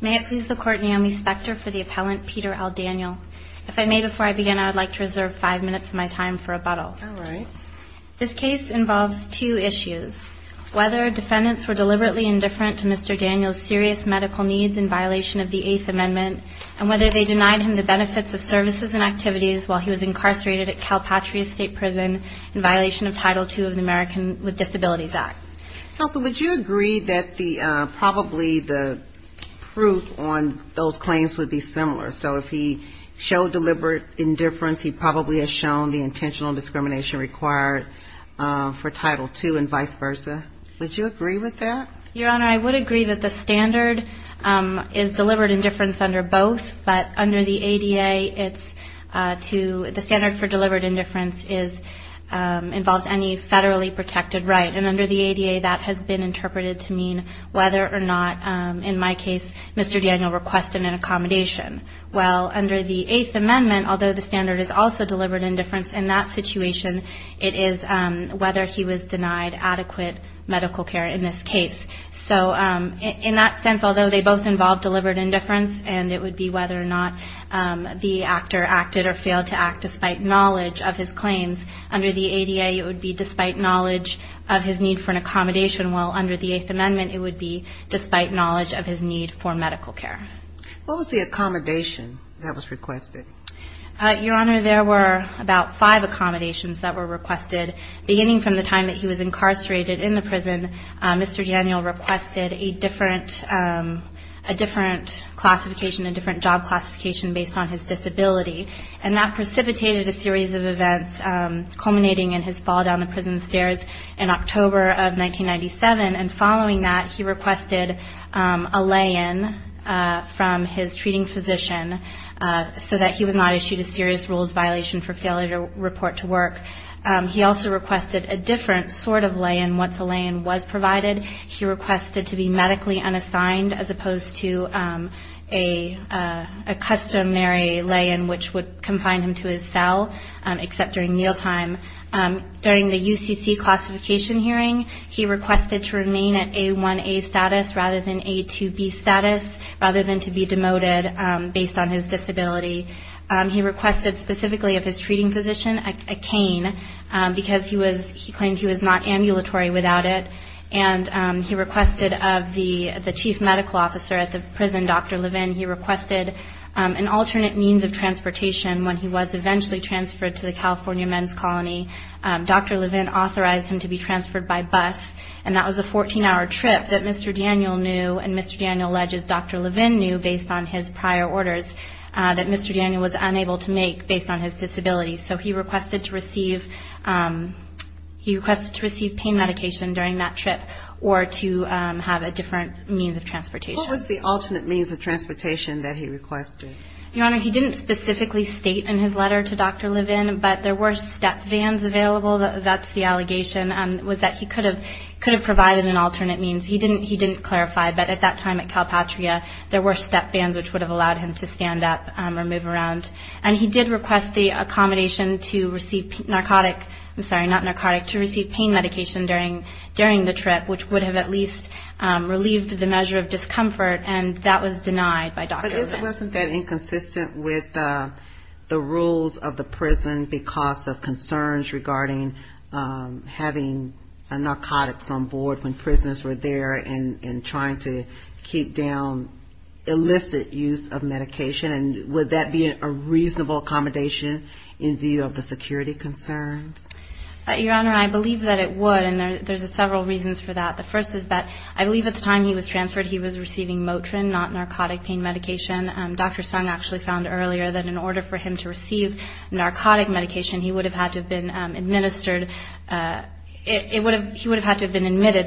May it please the Court, Naomi Spector for the appellant, Peter L. Daniel. If I may before I begin, I would like to reserve five minutes of my time for rebuttal. This case involves two issues. Whether defendants were deliberately indifferent to Mr. Daniel's serious medical needs in violation of the Eighth Amendment, and whether they denied him the benefits of services and activities while he was incarcerated at Calpatria State Prison in violation of Title II of the American with Disabilities Act. Counsel, would you agree that probably the proof on those claims would be similar? So if he showed deliberate indifference, he probably has shown the intentional discrimination required for Title II and vice versa. Would you agree with that? Your Honor, I would agree that the standard is deliberate indifference under both, but under the ADA, the standard for deliberate indifference involves any federally protected right. And under the ADA, that has been interpreted to mean whether or not, in my case, Mr. Daniel requested an accommodation. Well, under the Eighth Amendment, although the standard is also deliberate indifference in that situation, it is whether he was denied adequate medical care in this case. So in that sense, although they both involve deliberate indifference, and it would be whether or not the actor acted or failed to act despite knowledge of his claims, under the ADA, it would be despite knowledge of his need for an accommodation, while under the Eighth Amendment, it would be despite knowledge of his need for medical care. What was the accommodation that was requested? Your Honor, there were about five accommodations that were requested. Beginning from the time he was incarcerated in the prison, Mr. Daniel requested a different classification, a different job classification based on his disability. And that precipitated a series of events culminating in his fall down the prison stairs in October of 1997. And following that, he requested a lay-in from his treating physician so that he was not issued a serious rules violation for failure to report to work. He also requested a different sort of lay-in once a lay-in was provided. He requested to be medically unassigned as opposed to a customary lay-in which would confine him to his cell, except during meal time. During the UCC classification hearing, he requested to remain at A1A status rather than A2B status, rather than to be demoted based on his disability. He requested specifically of his treating physician a cane because he claimed he was not ambulatory without it. And he requested of the chief medical officer at the prison, Dr. Levin, he requested an alternate means of transportation when he was eventually transferred to the California Men's Colony. Dr. Levin authorized him to be transferred by bus. And that was a 14-hour trip that Mr. Daniel knew and Mr. Daniel alleges Dr. Levin knew based on his prior orders that Mr. Daniel was unable to make based on his disability. So he requested to receive pain medication during that trip or to have a different means of transportation. What was the alternate means of transportation that he requested? Your Honor, he didn't specifically state in his letter to Dr. Levin, but there were step vans available. That's the allegation, was that he could have provided an alternate means. He didn't clarify, but at that time at Calpatria, there were step vans which would have allowed him to stand up or move around. And he did request the accommodation to receive narcotic ‑‑ I'm sorry, not narcotic, to receive pain medication during the trip, which would have at least relieved the measure of discomfort. And that was denied by Dr. Levin. But wasn't that inconsistent with the rules of the prison because of concerns regarding having narcotics on board when prisoners were there and trying to keep down illicit use of medication? And would that be a reasonable accommodation in view of the security concerns? Your Honor, I believe that it would. And there's several reasons for that. The first is that I believe at the time he was transferred, he was receiving Motrin, not narcotic pain medication. Dr. Sung actually found earlier that in order for him to receive narcotic medication, he would have had to have been admitted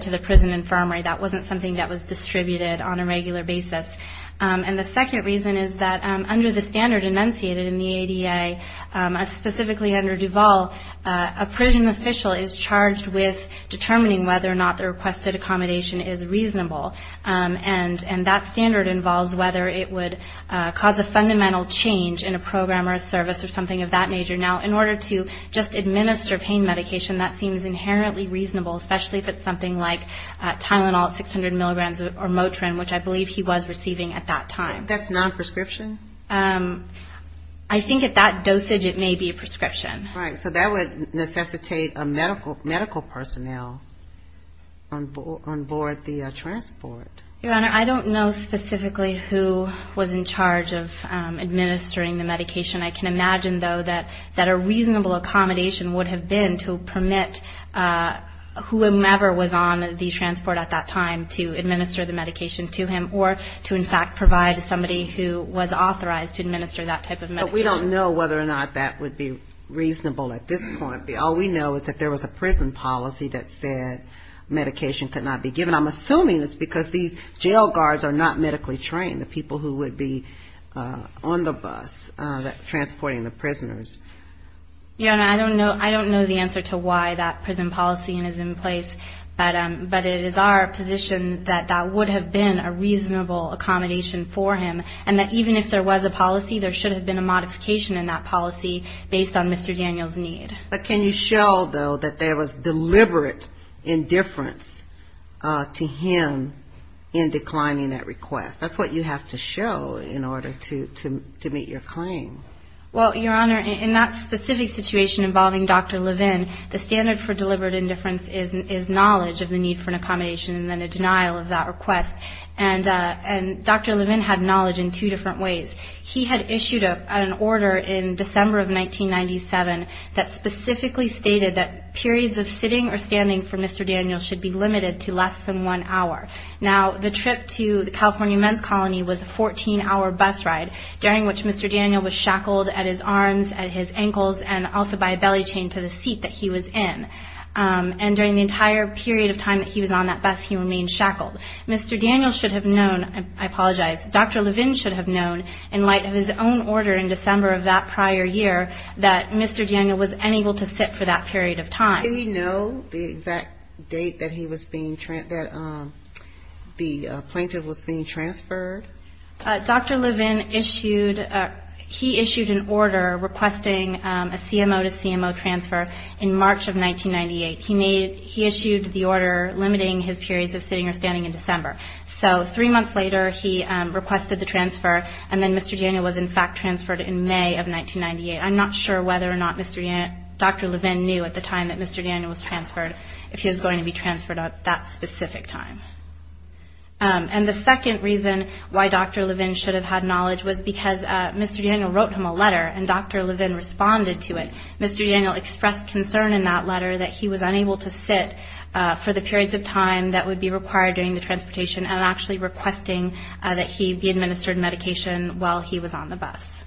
to the prison infirmary. That wasn't something that was distributed on a regular basis. And the second reason is that under the standard enunciated in the ADA, specifically under Duval, a prison official is charged with determining whether or not the requested accommodation is reasonable. And that standard involves whether it would cause a fundamental change in a program or a service or something of that major. Now, in order to just administer pain medication, that seems inherently reasonable, especially if it's something like Tylenol at 600 milligrams or Motrin, which I believe he was receiving at that time. That's non-prescription? I think at that dosage, it may be a prescription. Right. So that would necessitate a medical personnel on board the transport. Your Honor, I don't know specifically who was in charge of administering the medication. I can imagine, though, that a reasonable accommodation would have been to permit whomever was on the transport at that time to administer the medication to him or to, in fact, provide somebody who was authorized to administer that type of medication. But we don't know whether or not that would be reasonable at this point. All we know is that there was a prison policy that said medication could not be given. I'm assuming it's because these jail guards are not medically trained, the people who would be on the bus transporting the prisoners. Your Honor, I don't know the answer to why that prison policy is in place, but it is our position that that would have been a reasonable accommodation for him, and that even if there was a policy, there should have been a modification in that policy based on Mr. Daniel's need. But can you show, though, that there was deliberate indifference to him in declining that request? That's what you have to show in order to meet your claim. Well, Your Honor, in that specific situation involving Dr. Levin, the standard for deliberate indifference is knowledge of the need for an accommodation and then a denial of that request. And Dr. Levin had knowledge in two different ways. He had issued an order in which he specifically stated that periods of sitting or standing for Mr. Daniel should be limited to less than one hour. Now, the trip to the California Men's Colony was a 14-hour bus ride, during which Mr. Daniel was shackled at his arms, at his ankles, and also by a belly chain to the seat that he was in. And during the entire period of time that he was on that bus, he remained shackled. Mr. Daniel should have known, I apologize, Dr. Levin should have known, in light of his own order in December of that prior year, that Mr. Daniel was unable to sit for that period of time. Did he know the exact date that he was being, that the plaintiff was being transferred? Dr. Levin issued, he issued an order requesting a CMO to CMO transfer in March of 1998. He issued the order limiting his periods of sitting or standing in December. So three months later he requested the transfer, and then Mr. Daniel was in fact transferred in May of 1998. I'm not sure whether or not Dr. Levin knew at the time that Mr. Daniel was transferred if he was going to be transferred at that specific time. And the second reason why Dr. Levin should have had knowledge was because Mr. Daniel wrote him a letter and Dr. Levin responded to it. Mr. Daniel expressed concern in that letter that he was unable to sit for the periods of time that would be required during the transportation and actually requesting that he be administered medication while he was on the bus.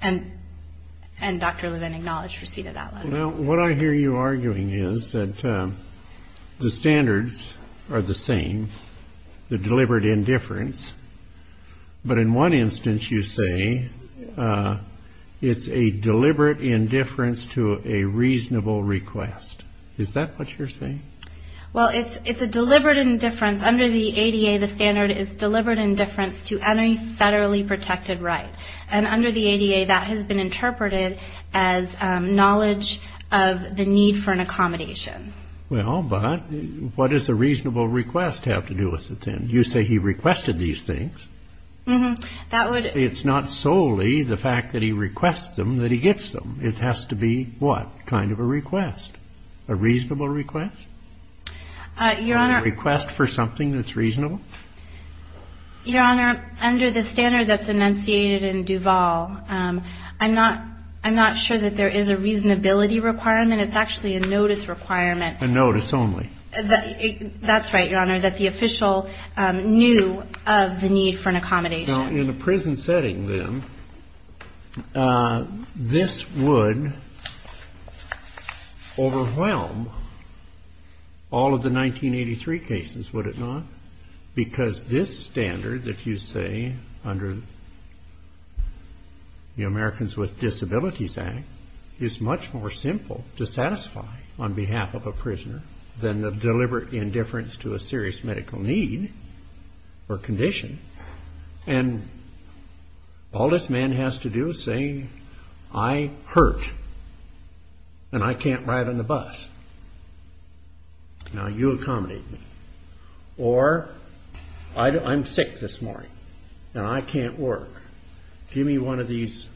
And Dr. Levin acknowledged receipt of that letter. Now what I hear you arguing is that the standards are the same, the deliberate indifference, but in one instance you say it's a deliberate indifference to a reasonable request. Is that what you're saying? Well it's a deliberate indifference, under the ADA the standard is deliberate indifference to any federally protected right. And under the ADA that has been interpreted as knowledge of the need for an accommodation. Well but what does a reasonable request have to do with it then? You say he requested these things. It's not solely the fact that he requests them that he gets them. It has to be what, kind of a request? A reasonable request? A request for something that's reasonable? Your Honor, under the standard that's enunciated in Duval, I'm not sure that there is a reasonability requirement. It's actually a notice requirement. A notice only? That's right, Your Honor, that the official knew of the need for an accommodation. Now in a prison setting then, this would overwhelm all of the 1983 cases, would it not? Because this standard that you say under the Americans with Disabilities Act is much more simple to satisfy on behalf of a prisoner than the deliberate indifference to a serious medical need or condition. And all this man has to do is say, I hurt and I can't ride on the bus. Now you accommodate me. Or I'm sick this morning and I can't work. Give me one of these,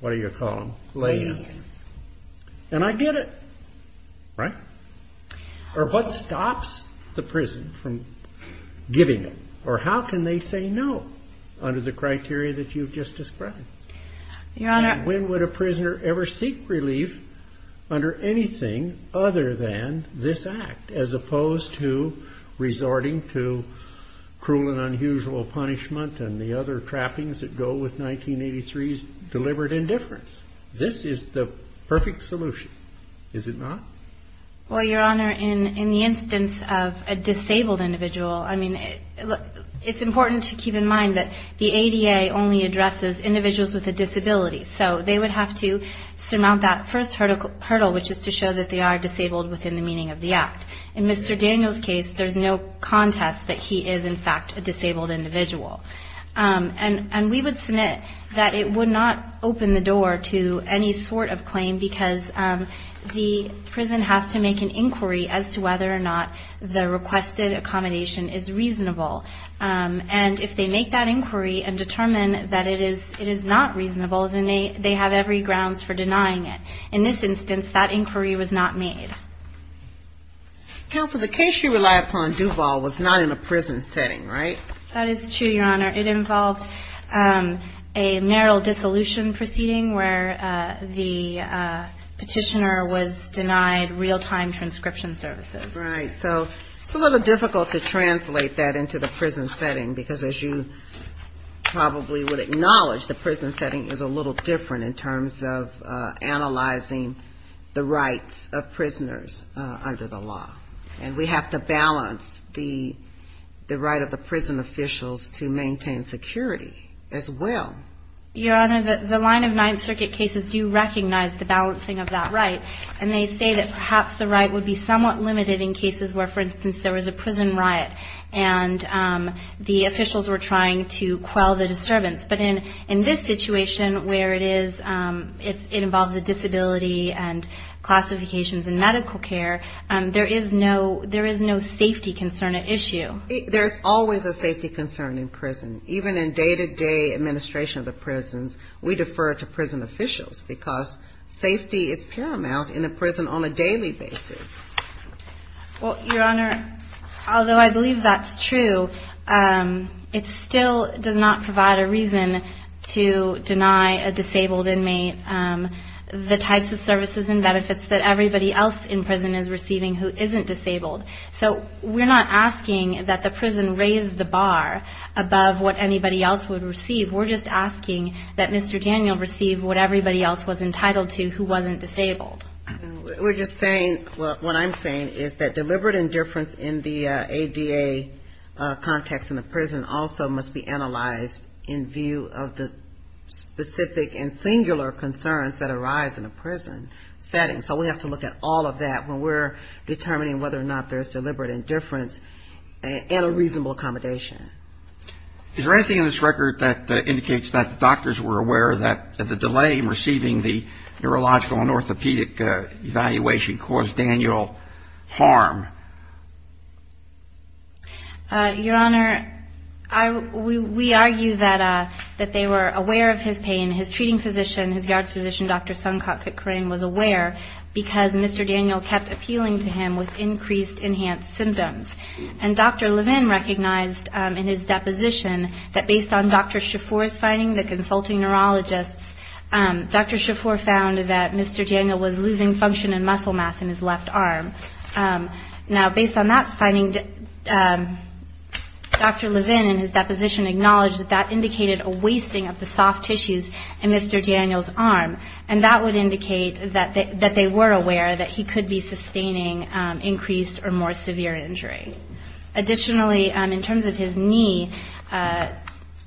what do you call them, lay-ins. And I get it, right? Or what stops the prison from giving it? Or how can they say no under the criteria that you've just described? Your Honor... And when would a prisoner ever seek relief under anything other than this act as opposed to resorting to cruel and unusual punishment and the other trappings that go with 1983's deliberate indifference? This is the perfect solution, is it not? Well, Your Honor, in the instance of a disabled individual, I mean, it's important to keep in mind that the ADA only addresses individuals with a disability. So they would have to surmount that first hurdle, which is to show that they are disabled within the meaning of the act. In Mr. Daniel's case, there's no contest that he is, in fact, a disabled individual. And we would submit that it would not open the door to any sort of claim because the prison has to make an inquiry as to whether or not the requested accommodation is reasonable. And if they make that inquiry and determine that it is not reasonable, then they have every grounds for denying it. In this instance, that inquiry was not made. Counsel, the case you relied upon, Duval, was not in a prison setting, right? That is true, Your Honor. It involved a marital dissolution proceeding where the petitioner was denied real-time transcription services. Right. So it's a little difficult to translate that into the prison setting because, as you probably would acknowledge, the prison setting is a little different in terms of analyzing the rights of prisoners under the law. And we have to balance the right of the prison officials to maintain security as well. Your Honor, the line of Ninth Circuit cases do recognize the balancing of that right. And they say that perhaps the right would be somewhat limited in cases where, for instance, there was a prison riot and the officials were trying to quell the disturbance. But in this situation where it involves a disability and classifications in medical care, there is no safety concern at issue. There's always a safety concern in prison. Even in day-to-day administration of the prisons, we defer to prison officials because safety is paramount in a prison on a daily basis. Well, Your Honor, although I believe that's true, it still does not provide a reason to deny a disabled inmate the types of services and benefits that everybody else in prison is receiving who isn't disabled. So we're not asking that the prison raise the bar above what anybody else would receive. We're just asking that Mr. Daniel receive what everybody else was entitled to who wasn't disabled. We're just saying, what I'm saying is that deliberate indifference in the ADA context in the prison also must be analyzed in view of the specific and singular concerns that arise in a prison setting. So we have to look at all of that when we're determining whether or not there's deliberate indifference and a reasonable accommodation. Is there anything in this record that indicates that doctors were aware that the delay in receiving the neurological and orthopedic evaluation caused Daniel harm? Your Honor, we argue that they were aware of his pain. His treating physician, his yard doctor, Dr. Daniel, kept appealing to him with increased enhanced symptoms. And Dr. Levin recognized in his deposition that based on Dr. Shafour's finding, the consulting neurologist, Dr. Shafour found that Mr. Daniel was losing function and muscle mass in his left arm. Now based on that finding, Dr. Levin in his deposition acknowledged that that indicated a wasting of the soft tissues in Mr. Daniel's arm. And that would indicate that they were aware that he could be sustaining increased or more severe injury. Additionally, in terms of his knee,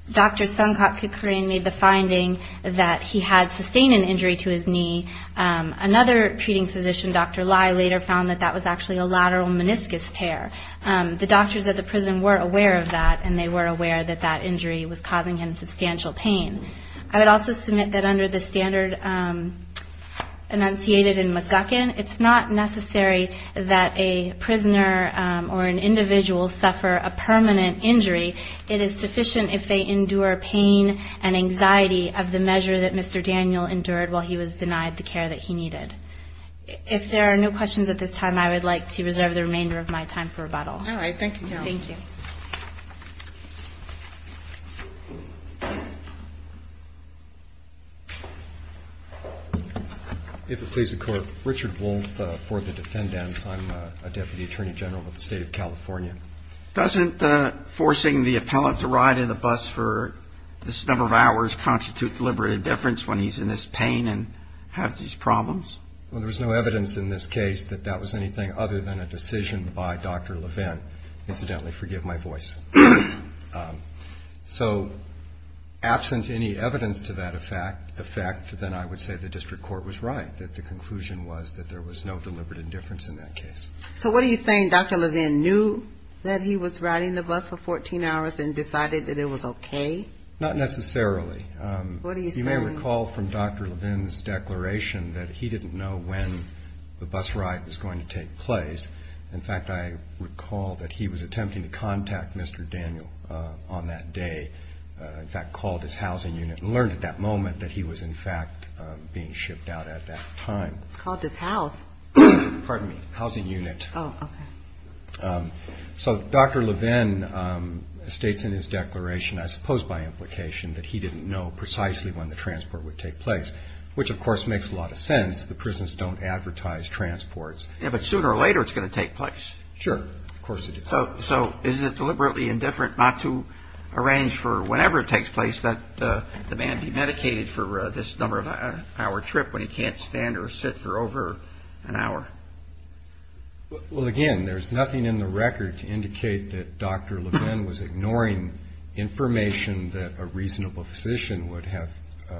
Dr. Sankak Kukurin made the finding that he had sustained an injury to his knee. Another treating physician, Dr. Lai, later found that that was actually a lateral meniscus tear. The doctors at the prison were aware of that and they were aware that that injury was causing him substantial pain. I would also submit that under the standard enunciated in McGuckin, it's not necessary that a prisoner or an individual suffer a permanent injury. It is sufficient if they endure pain and anxiety of the measure that Mr. Daniel endured while he was denied the care that he needed. If there are no questions at this time, I would like to reserve the remainder of my time for rebuttal. All right. Thank you, Carol. Thank you. If it please the Court, Richard Wolfe for the defendants. I'm a Deputy Attorney General with the State of California. Doesn't forcing the appellant to ride in the bus for this number of hours constitute deliberate indifference when he's in this pain and has these problems? Well, there was no evidence in this case that that was anything other than a decision by Dr. Levin. Incidentally, forgive my voice. So absent any evidence to that effect, then I would say the District Court was right, that the conclusion was that there was no deliberate indifference in that case. So what are you saying? Dr. Levin knew that he was riding the bus for 14 hours and decided that it was okay? Not necessarily. What are you saying? You may recall from Dr. Levin's declaration that he didn't know when the bus ride was going to take place. In fact, I recall that he was attempting to contact Mr. Daniel on that day, in fact called his housing unit and learned at that moment that he was in fact being shipped out at that time. Called his house? Pardon me. Housing unit. Oh, okay. So Dr. Levin states in his declaration, I suppose by implication, that he didn't know precisely when the transport would take place, which of course makes a lot of sense. The prisons don't advertise transports. But sooner or later it's going to take place. Sure. Of course it is. So is it deliberately indifferent not to arrange for whenever it takes place that the man be medicated for this number of hour trip when he can't stand or sit for over an hour? Well, again, there's nothing in the record to indicate that Dr. Levin was ignoring information that a reasonable physician would have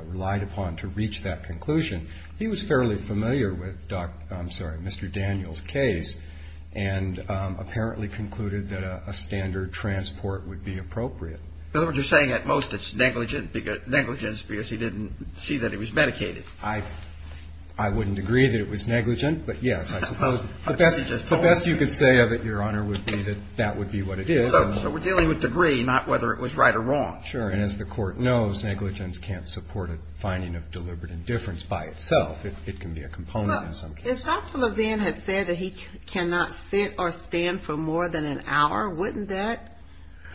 relied upon to reach that conclusion. He was fairly familiar with Dr. I'm sorry, Mr. Daniel's case, and apparently concluded that a standard transport would be appropriate. In other words, you're saying at most it's negligence because he didn't see that he was medicated. I wouldn't agree that it was negligent, but yes, I suppose the best you could say of it, Your Honor, would be that that would be what it is. So we're dealing with degree, not whether it was right or wrong. Sure. And as the court knows, negligence can't support a finding of deliberate indifference by itself. It can be a component in some cases. If Dr. Levin had said that he cannot sit or stand for more than an hour, wouldn't that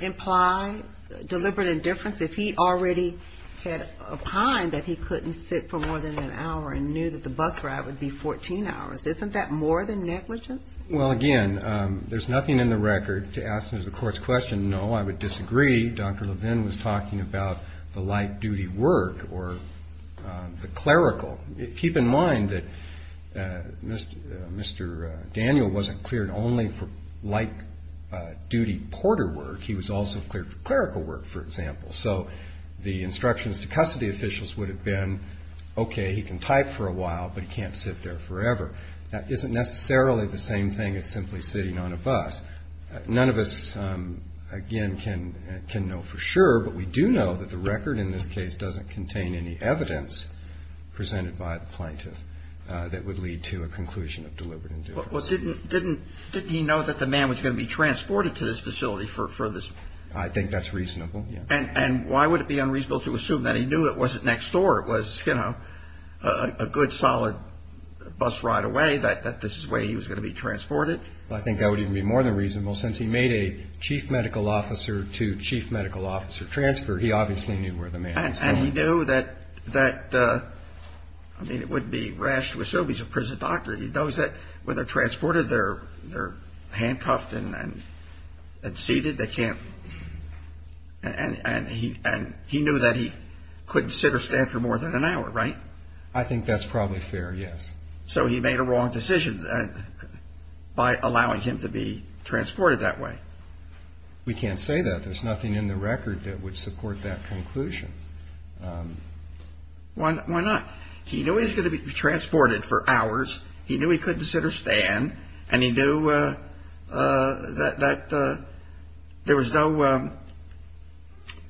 imply deliberate indifference if he already had opined that he couldn't sit for more than an hour and knew that the bus ride would be 14 hours? Isn't that more than negligence? Well, again, there's nothing in the record to answer the court's question. No, I would disagree. Dr. Levin was talking about the light-duty work or the clerical. Keep in mind that Mr. Daniel wasn't cleared only for light-duty porter work. He was also cleared for clerical work, for example. So the instructions to custody officials would have been, okay, he can type for a while, but he can't sit there forever. That isn't necessarily the same thing as simply sitting on a bus. None of us, again, can know for sure, but we do know that the record in this case doesn't contain any evidence presented by the plaintiff that would lead to a conclusion of deliberate indifference. Well, didn't he know that the man was going to be transported to this facility for this? I think that's reasonable, yeah. And why would it be unreasonable to assume that he knew it wasn't next door? It was a good, solid bus ride away, that this is the way he was going to be transported? I think that would even be more than reasonable. Since he made a chief medical officer to chief medical officer transfer, he obviously knew where the man was going. And he knew that, I mean, it wouldn't be rash to assume he's a prison doctor. He knows that when they're transported, they're handcuffed and seated. They can't, and he knew that he couldn't sit or stand for more than an hour, right? I think that's probably fair, yes. So he made a wrong decision. By allowing him to be transported that way. We can't say that. There's nothing in the record that would support that conclusion. Why not? He knew he was going to be transported for hours. He knew he couldn't sit or stand. And he knew that there was no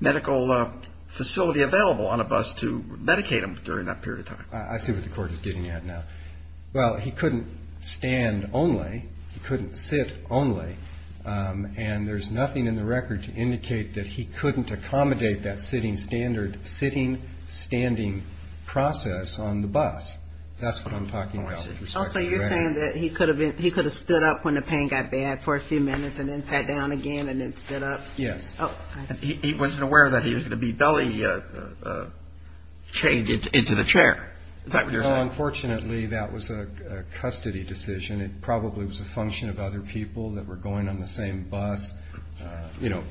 medical facility available on a bus to medicate him during that period of time. I see what the court is getting at now. Well, he couldn't stand only. He couldn't sit only. And there's nothing in the record to indicate that he couldn't accommodate that sitting standard, sitting, standing process on the bus. That's what I'm talking about. Also, you're saying that he could have been, he could have stood up when the pain got bad for a few minutes and then sat down again and then stood up. Yes. He wasn't aware that he was going to be belly chained into the chair. Unfortunately, that was a custody decision. It probably was a function of other people that were going on the same bus. You know,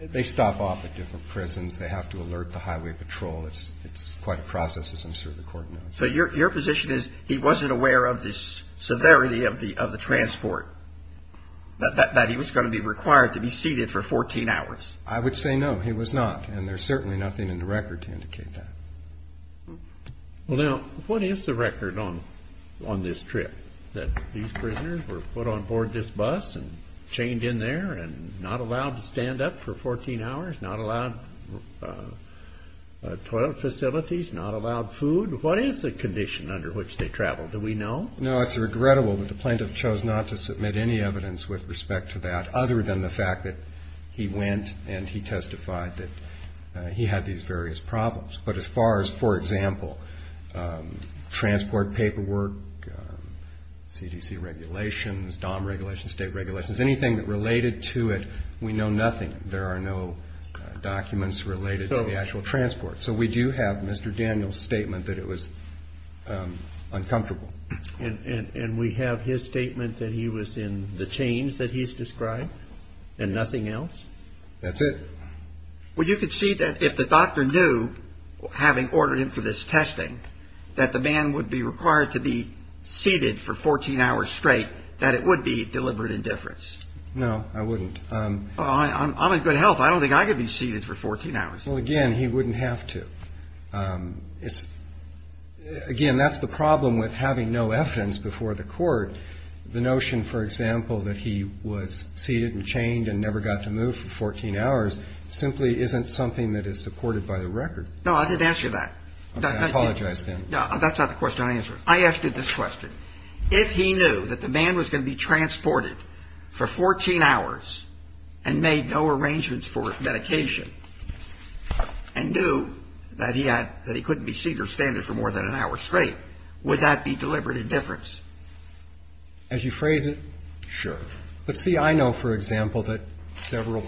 they stop off at different prisons. They have to alert the highway patrol. It's it's quite a process, as I'm sure the court knows. So your position is he wasn't aware of this severity of the of the transport that he was going to be required to be seated for 14 hours. I would say no, he was not. And there's certainly nothing in the record to indicate that. Well, now, what is the record on on this trip that these prisoners were put on board this bus and chained in there and not allowed to stand up for 14 hours, not allowed toilet facilities, not allowed food? What is the condition under which they travel? Do we know? No, it's regrettable that the plaintiff chose not to submit any evidence with respect to that other than the fact that he went and he testified that he had these various problems. But as far as, for example, transport paperwork, CDC regulations, DOM regulations, state regulations, anything that related to it, we know nothing. There are no documents related to the actual transport. So we do have Mr. Daniel's statement that it was uncomfortable. And we have his statement that he was in the chains that he's described and nothing else. That's it. Well, you could see that if the doctor knew, having ordered him for this testing, that the man would be required to be seated for 14 hours straight, that it would be deliberate indifference. No, I wouldn't. I'm in good health. I don't think I could be seated for 14 hours. Well, again, he wouldn't have to. It's again, that's the problem with having no evidence before the court. The notion, for example, that he was seated and chained and never got to move for 14 hours simply isn't something that is supported by the record. No, I didn't ask you that. I apologize, then. No, that's not the question I answered. I asked you this question. If he knew that the man was going to be transported for 14 hours and made no arrangements for medication and knew that he had that he couldn't be seated or standing for more than an hour straight, would that be deliberate indifference? As you phrase it, sure. But see, I know, for example, that several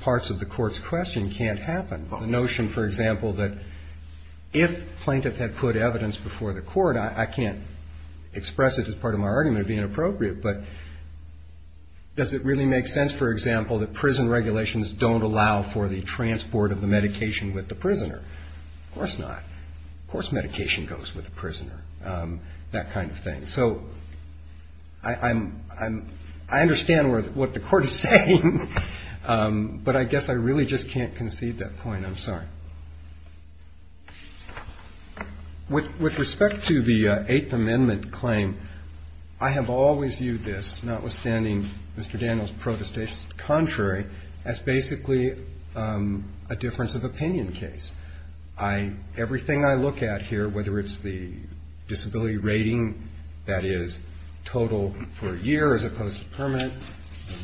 parts of the court's question can't happen. The notion, for example, that if plaintiff had put evidence before the court, I can't express it as part of my argument of being inappropriate, but does it really make sense, for example, that prison regulations don't allow for the transport of the medication with the prisoner? Of course not. Of course medication goes with the prisoner, that kind of thing. So I understand what the court is saying, but I guess I really just can't concede that point. I'm sorry. With respect to the Eighth Amendment claim, I have always viewed this, notwithstanding Mr. Daniels' protestations to the contrary, as basically a difference of opinion case. Everything I look at here, whether it's the disability rating that is total for a year as opposed to permanent,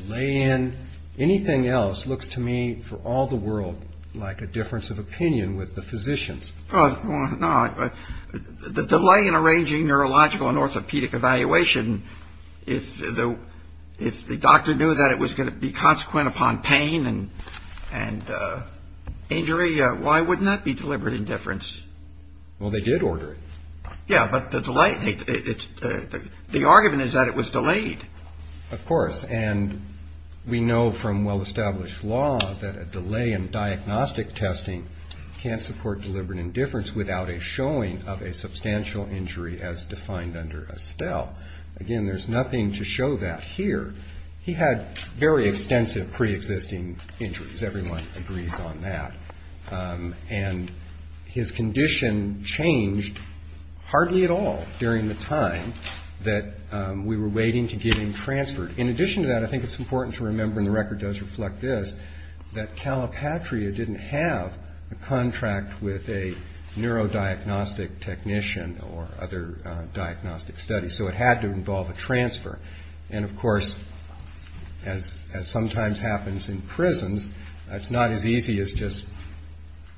delay in, anything else looks to me, for all the world, like a difference of opinion with the physicians. Well, no, the delay in arranging neurological and orthopedic evaluation, if the doctor knew that it was going to be consequent upon pain and injury, why wouldn't that be deliberate indifference? Well, they did order it. Yeah, but the delay, the argument is that it was delayed. Of course, and we know from well-established law that a delay in diagnostic testing can't support deliberate indifference without a showing of a substantial injury as defined under Estelle. Again, there's nothing to show that here. He had very extensive pre-existing injuries, everyone agrees on that, and his condition changed hardly at all during the time that we were waiting to get him transferred. In addition to that, I think it's important to remember, and the record does reflect this, that Calipatria didn't have a contract with a neurodiagnostic technician or other diagnostic study, so it had to involve a transfer. And of course, as sometimes happens in prisons, it's not as easy as just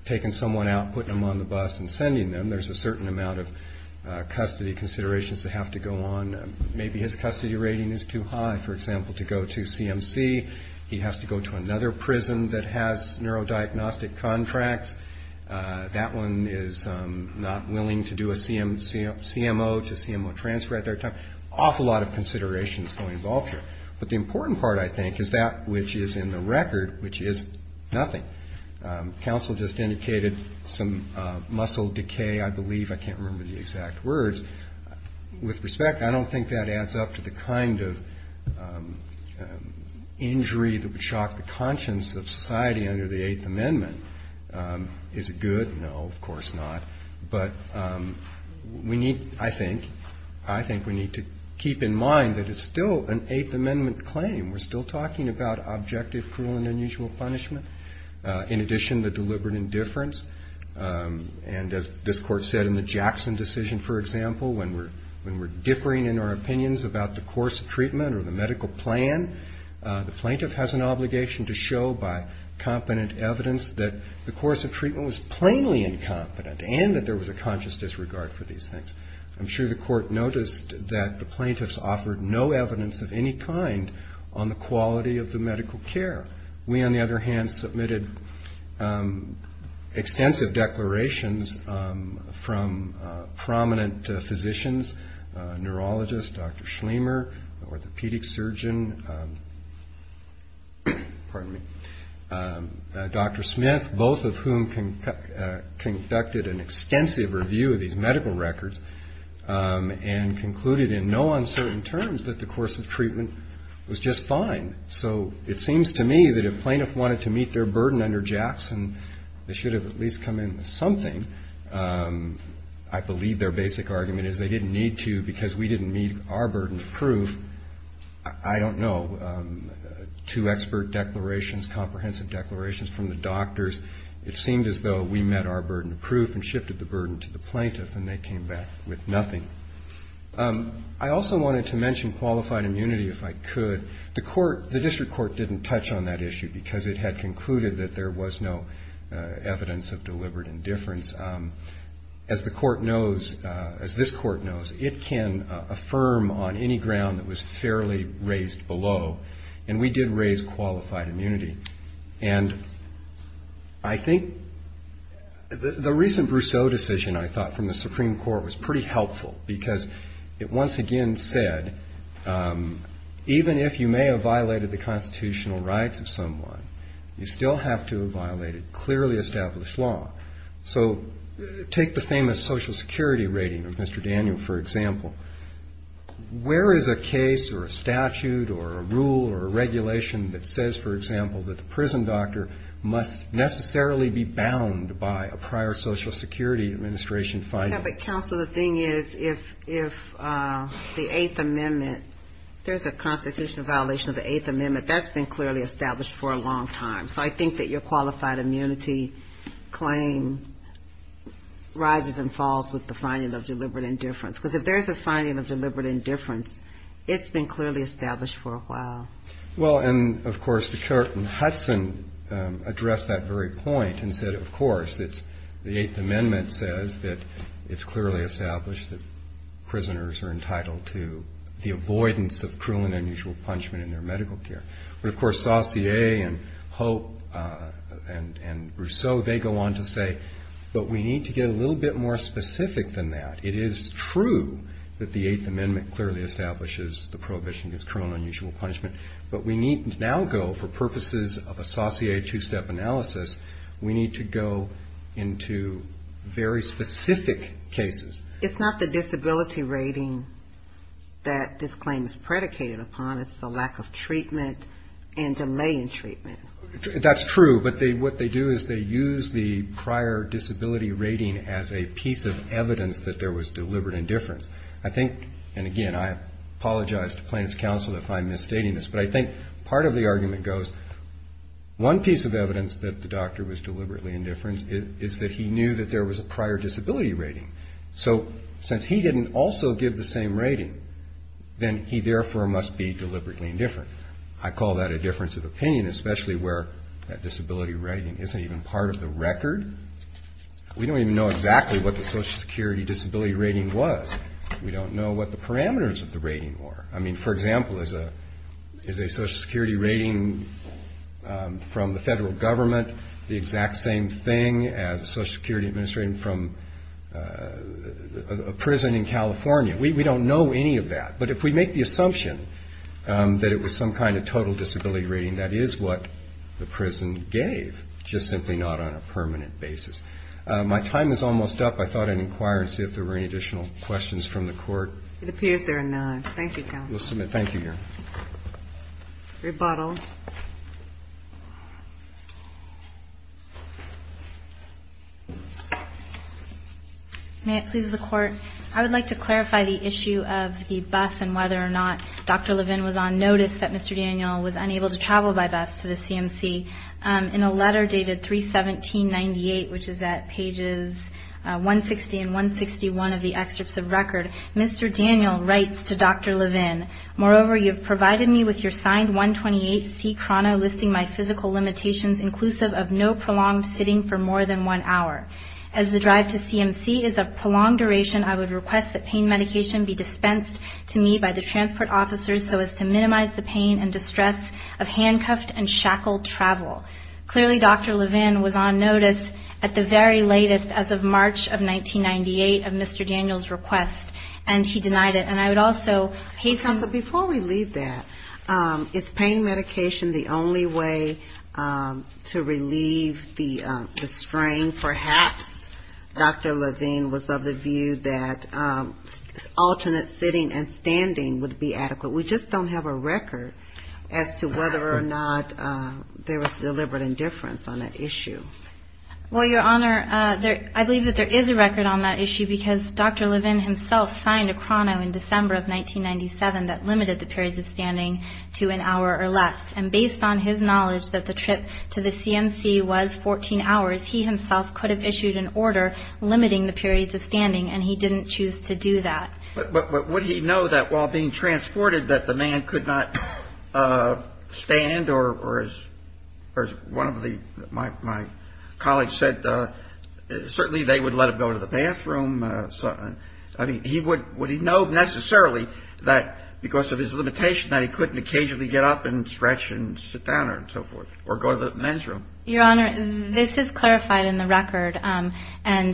taking someone out, putting them on the bus, and sending them. There's a certain amount of custody considerations that have to go on. Maybe his custody rating is too high, for example, to go to CMC. He has to go to another prison that has neurodiagnostic contracts. That one is not willing to do a CMO to CMO transfer at their time. Awful lot of considerations go involved here. But the important part, I think, is that which is in the record, which is nothing. Counsel just indicated some muscle decay, I believe. I can't remember the exact words. With respect, I don't think that adds up to the kind of injury that would shock the conscience of society under the Eighth Amendment. Is it good? No, of course not. But we need, I think, I think we need to keep in mind that it's still an Eighth Amendment claim. We're still talking about objective, cruel, and unusual punishment. In addition, the deliberate indifference, and as this Court said in the Jackson decision, for example, when we're differing in our opinions about the course of treatment or the medical plan, the plaintiff has an obligation to show by competent evidence that the course of treatment was plainly incompetent, and that there was a conscious disregard for these things. I'm sure the Court noticed that the plaintiffs offered no evidence of any kind on the quality of the medical care. We, on the other hand, submitted extensive declarations from prominent physicians, neurologists, Dr. Schlemmer, orthopedic surgeon, pardon me, Dr. Smith, both of whom conducted an extensive review of these medical records and concluded in no uncertain terms that the course of treatment was just fine. So it seems to me that if plaintiff wanted to meet their burden under Jackson, they should have at least come in with something. I believe their basic argument is they didn't need to because we didn't meet our burden of proof. I don't know. Two expert declarations, comprehensive declarations from the doctors. It seemed as though we met our burden of proof and shifted the burden to the plaintiff, and they came back with nothing. I also wanted to mention qualified immunity, if I could. The District Court didn't touch on that issue because it had concluded that there was no evidence of deliberate indifference. As the Court knows, as this Court knows, it can affirm on any ground that was fairly raised below, and we did raise qualified immunity. And I think the recent Brousseau decision, I thought, from the Supreme Court was pretty helpful because it once again said, even if you may have violated the constitutional rights of someone, you still have to have violated clearly established law. So take the famous Social Security rating of Mr. Daniel, for example. Where is a case or a statute or a rule or a regulation that says, for example, that the prison doctor must necessarily be bound by a prior Social Security Administration finding? Yeah, but counsel, the thing is, if the Eighth Amendment, there's a constitutional violation of the Eighth Amendment. That's been clearly established for a long time. So I think that your qualified immunity claim rises and falls with the finding of deliberate indifference. Because if there's a finding of deliberate indifference, it's been clearly established for a while. Well, and of course, the court in Hudson addressed that very point and said, of course, the Eighth Amendment says that it's clearly established that prisoners are entitled to the avoidance of cruel and unusual punishment in their medical care. But of course, Saussure and Hope and Brousseau, they go on to say, but we need to get a little bit more specific than that. It is true that the Eighth Amendment clearly establishes the prohibition against cruel and unusual punishment. But we need to now go, for purposes of a Saussure two-step analysis, we need to go into very specific cases. It's not the disability rating that this claim is predicated upon. It's the lack of treatment and delay in treatment. That's true. But what they do is they use the prior disability rating as a piece of evidence that there was deliberate indifference. I think, and again, I apologize to plaintiff's counsel if I'm misstating this, but I think part of the argument goes, one piece of evidence that the doctor was deliberately indifferent is that he knew that there was a prior disability rating. So since he didn't also give the same rating, then he therefore must be deliberately indifferent. I call that a difference of opinion, especially where that disability rating isn't even part of the record. We don't even know exactly what the Social Security disability rating was. We don't know what the parameters of the rating were. I mean, for example, is a Social Security rating from the federal government the exact same thing as a Social Security administrator from a prison in California? We don't know any of that. But if we make the assumption that it was some kind of total disability rating, that is what the prison gave, just simply not on a permanent basis. My time is almost up. I thought I'd inquire and see if there were any additional questions from the court. It appears there are none. Thank you, counsel. We'll submit. Thank you, Your Honor. Rebuttal. May it please the Court. I would like to clarify the issue of the bus and whether or not Dr. Levin was on notice that Mr. Daniel was unable to travel by bus to the CMC. In a letter dated 31798, which is at pages 160 and 161 of the excerpts of record, Mr. Daniel writes to Dr. Levin, moreover, you've provided me with your signed 128C chrono listing my physical limitations inclusive of no prolonged sitting for more than one hour. As the drive to CMC is of prolonged duration, I would request that pain medication be dispensed to me by the transport officers so as to minimize the pain and distress of handcuffed and shackled travel. Clearly, Dr. Levin was on notice at the very latest as of March of 1998 of Mr. Daniel's request. And he denied it. And I would also hasten. Counsel, before we leave that, is pain medication the only way to relieve the strain? Perhaps Dr. Levin was of the view that alternate sitting and standing would be adequate. We just don't have a record as to whether or not there was deliberate indifference on that issue. Well, Your Honor, I believe that there is a record on that issue because Dr. Levin himself signed a chrono in December of 1997 that limited the periods of standing to an hour or less. And based on his knowledge that the trip to the CMC was 14 hours, he himself could have issued an order limiting the periods of standing. And he didn't choose to do that. But would he know that while being transported that the man could not stand or as one of my colleagues said, certainly they would let him go to the bathroom. I mean, would he know necessarily that because of his limitation that he couldn't occasionally get up and stretch and sit down and so forth or go to the men's room? Your Honor, this is clarified in the record. And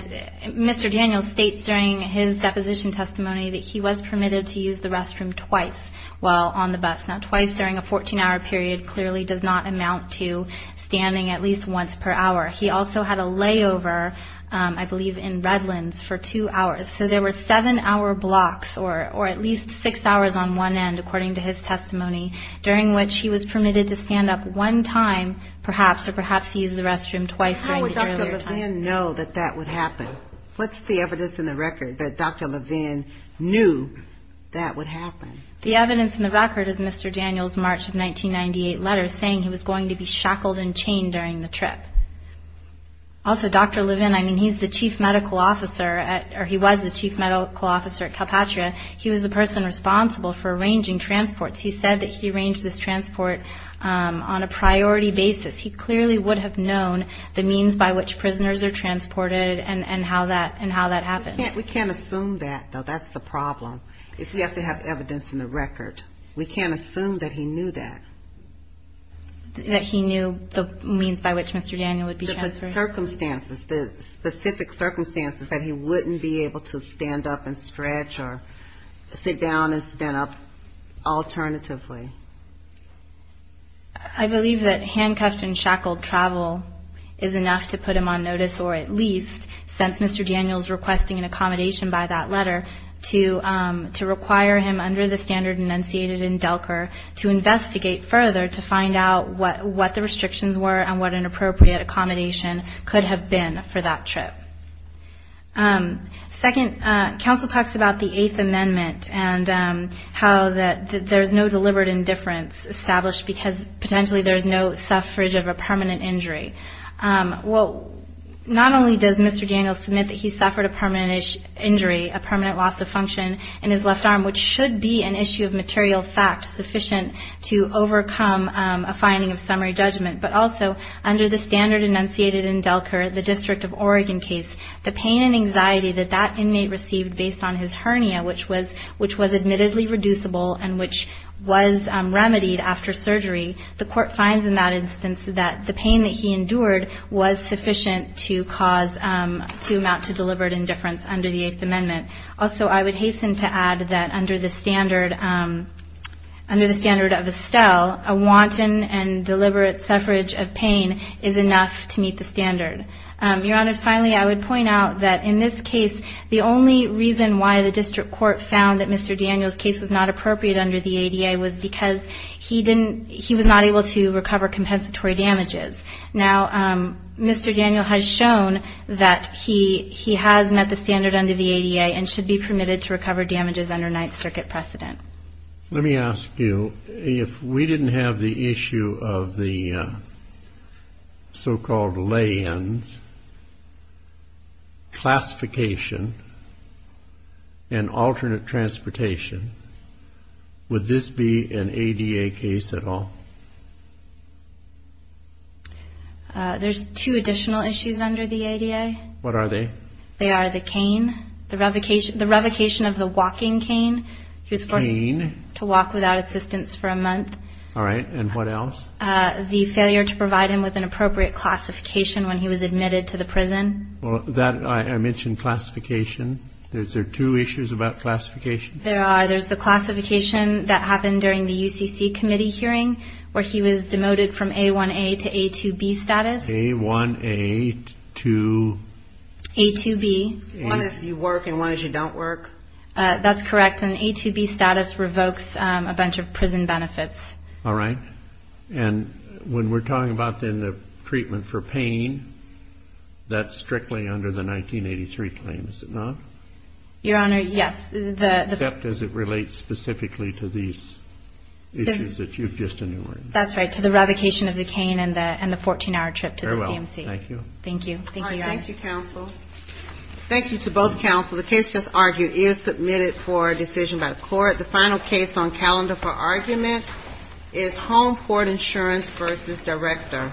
Mr. Daniel states during his deposition testimony that he was permitted to use the restroom twice while on the bus. Now, twice during a 14-hour period clearly does not amount to standing at least once per hour. He also had a layover, I believe, in Redlands for two hours. So there were seven-hour blocks or at least six hours on one end, according to his testimony, during which he was permitted to stand up one time, perhaps, or perhaps he used the restroom twice during the earlier time. How would Dr. Levin know that that would happen? What's the evidence in the record that Dr. Levin knew that would happen? The evidence in the record is Mr. Daniel's March of 1998 letter saying he was going to be shackled and chained during the trip. Also, Dr. Levin, I mean, he's the chief medical officer at, or he was the chief medical officer at Calpatria. He was the person responsible for arranging transports. He said that he arranged this transport on a priority basis. He clearly would have known the means by which prisoners are transported and how that happens. We can't assume that, though. That's the problem, is we have to have evidence in the record. We can't assume that he knew that. That he knew the means by which Mr. Daniel would be transferred? The circumstances, the specific circumstances that he wouldn't be able to stand up and stretch or sit down and stand up alternatively. I believe that handcuffed and shackled travel is enough to put him on notice, or at least, since Mr. Daniel's requesting an accommodation by that letter, to require him, under the standard enunciated in Delker, to investigate further to find out what the restrictions were and what an appropriate accommodation could have been for that trip. Second, counsel talks about the Eighth Amendment and how that there's no deliberate indifference established because, potentially, there's no suffrage of a permanent injury. Well, not only does Mr. Daniel submit that he suffered a permanent injury, a permanent loss of function in his left arm, which should be an issue of material fact sufficient to overcome a finding of summary judgment, but also, under the standard enunciated in Delker, the District of Oregon case, the pain and anxiety that that inmate received based on his hernia, which was admittedly reducible and which was remedied after surgery, the court finds in that instance that the pain that he endured was sufficient to cause, to amount to deliberate indifference under the Eighth Amendment. Also, I would hasten to add that, under the standard of Estelle, a wanton and deliberate suffrage of pain is enough to meet the standard. Your Honors, finally, I would point out that, in this case, the only reason why the district court found that Mr. Daniel's case was not appropriate under the ADA was because he was not able to recover compensatory damages. Now, Mr. Daniel has shown that he has met the standard under the ADA and should be permitted to recover damages under Ninth Circuit precedent. Let me ask you, if we didn't have the issue of the so-called lay-ins, classification, and alternate transportation, would this be an ADA case at all? There's two additional issues under the ADA. What are they? They are the cane, the revocation of the walking cane. He was forced to walk without assistance for a month. All right, and what else? The failure to provide him with an appropriate classification when he was admitted to the prison. Well, that, I mentioned classification. Is there two issues about classification? There are. There's the classification that happened during the UCC Committee hearing. Where he was demoted from A1-A to A2-B status. A1-A to? A2-B. One is you work, and one is you don't work. That's correct. An A2-B status revokes a bunch of prison benefits. All right. And when we're talking about then the treatment for pain, that's strictly under the 1983 claim, is it not? Your Honor, yes. Except as it relates specifically to these issues that you've just enumerated. That's right, to the revocation of the cane and the 14-hour trip to the CMC. Very well, thank you. Thank you. Thank you, Your Honor. Thank you, counsel. Thank you to both counsel. The case just argued is submitted for a decision by the court. The final case on calendar for argument is Home Court Insurance v. Director.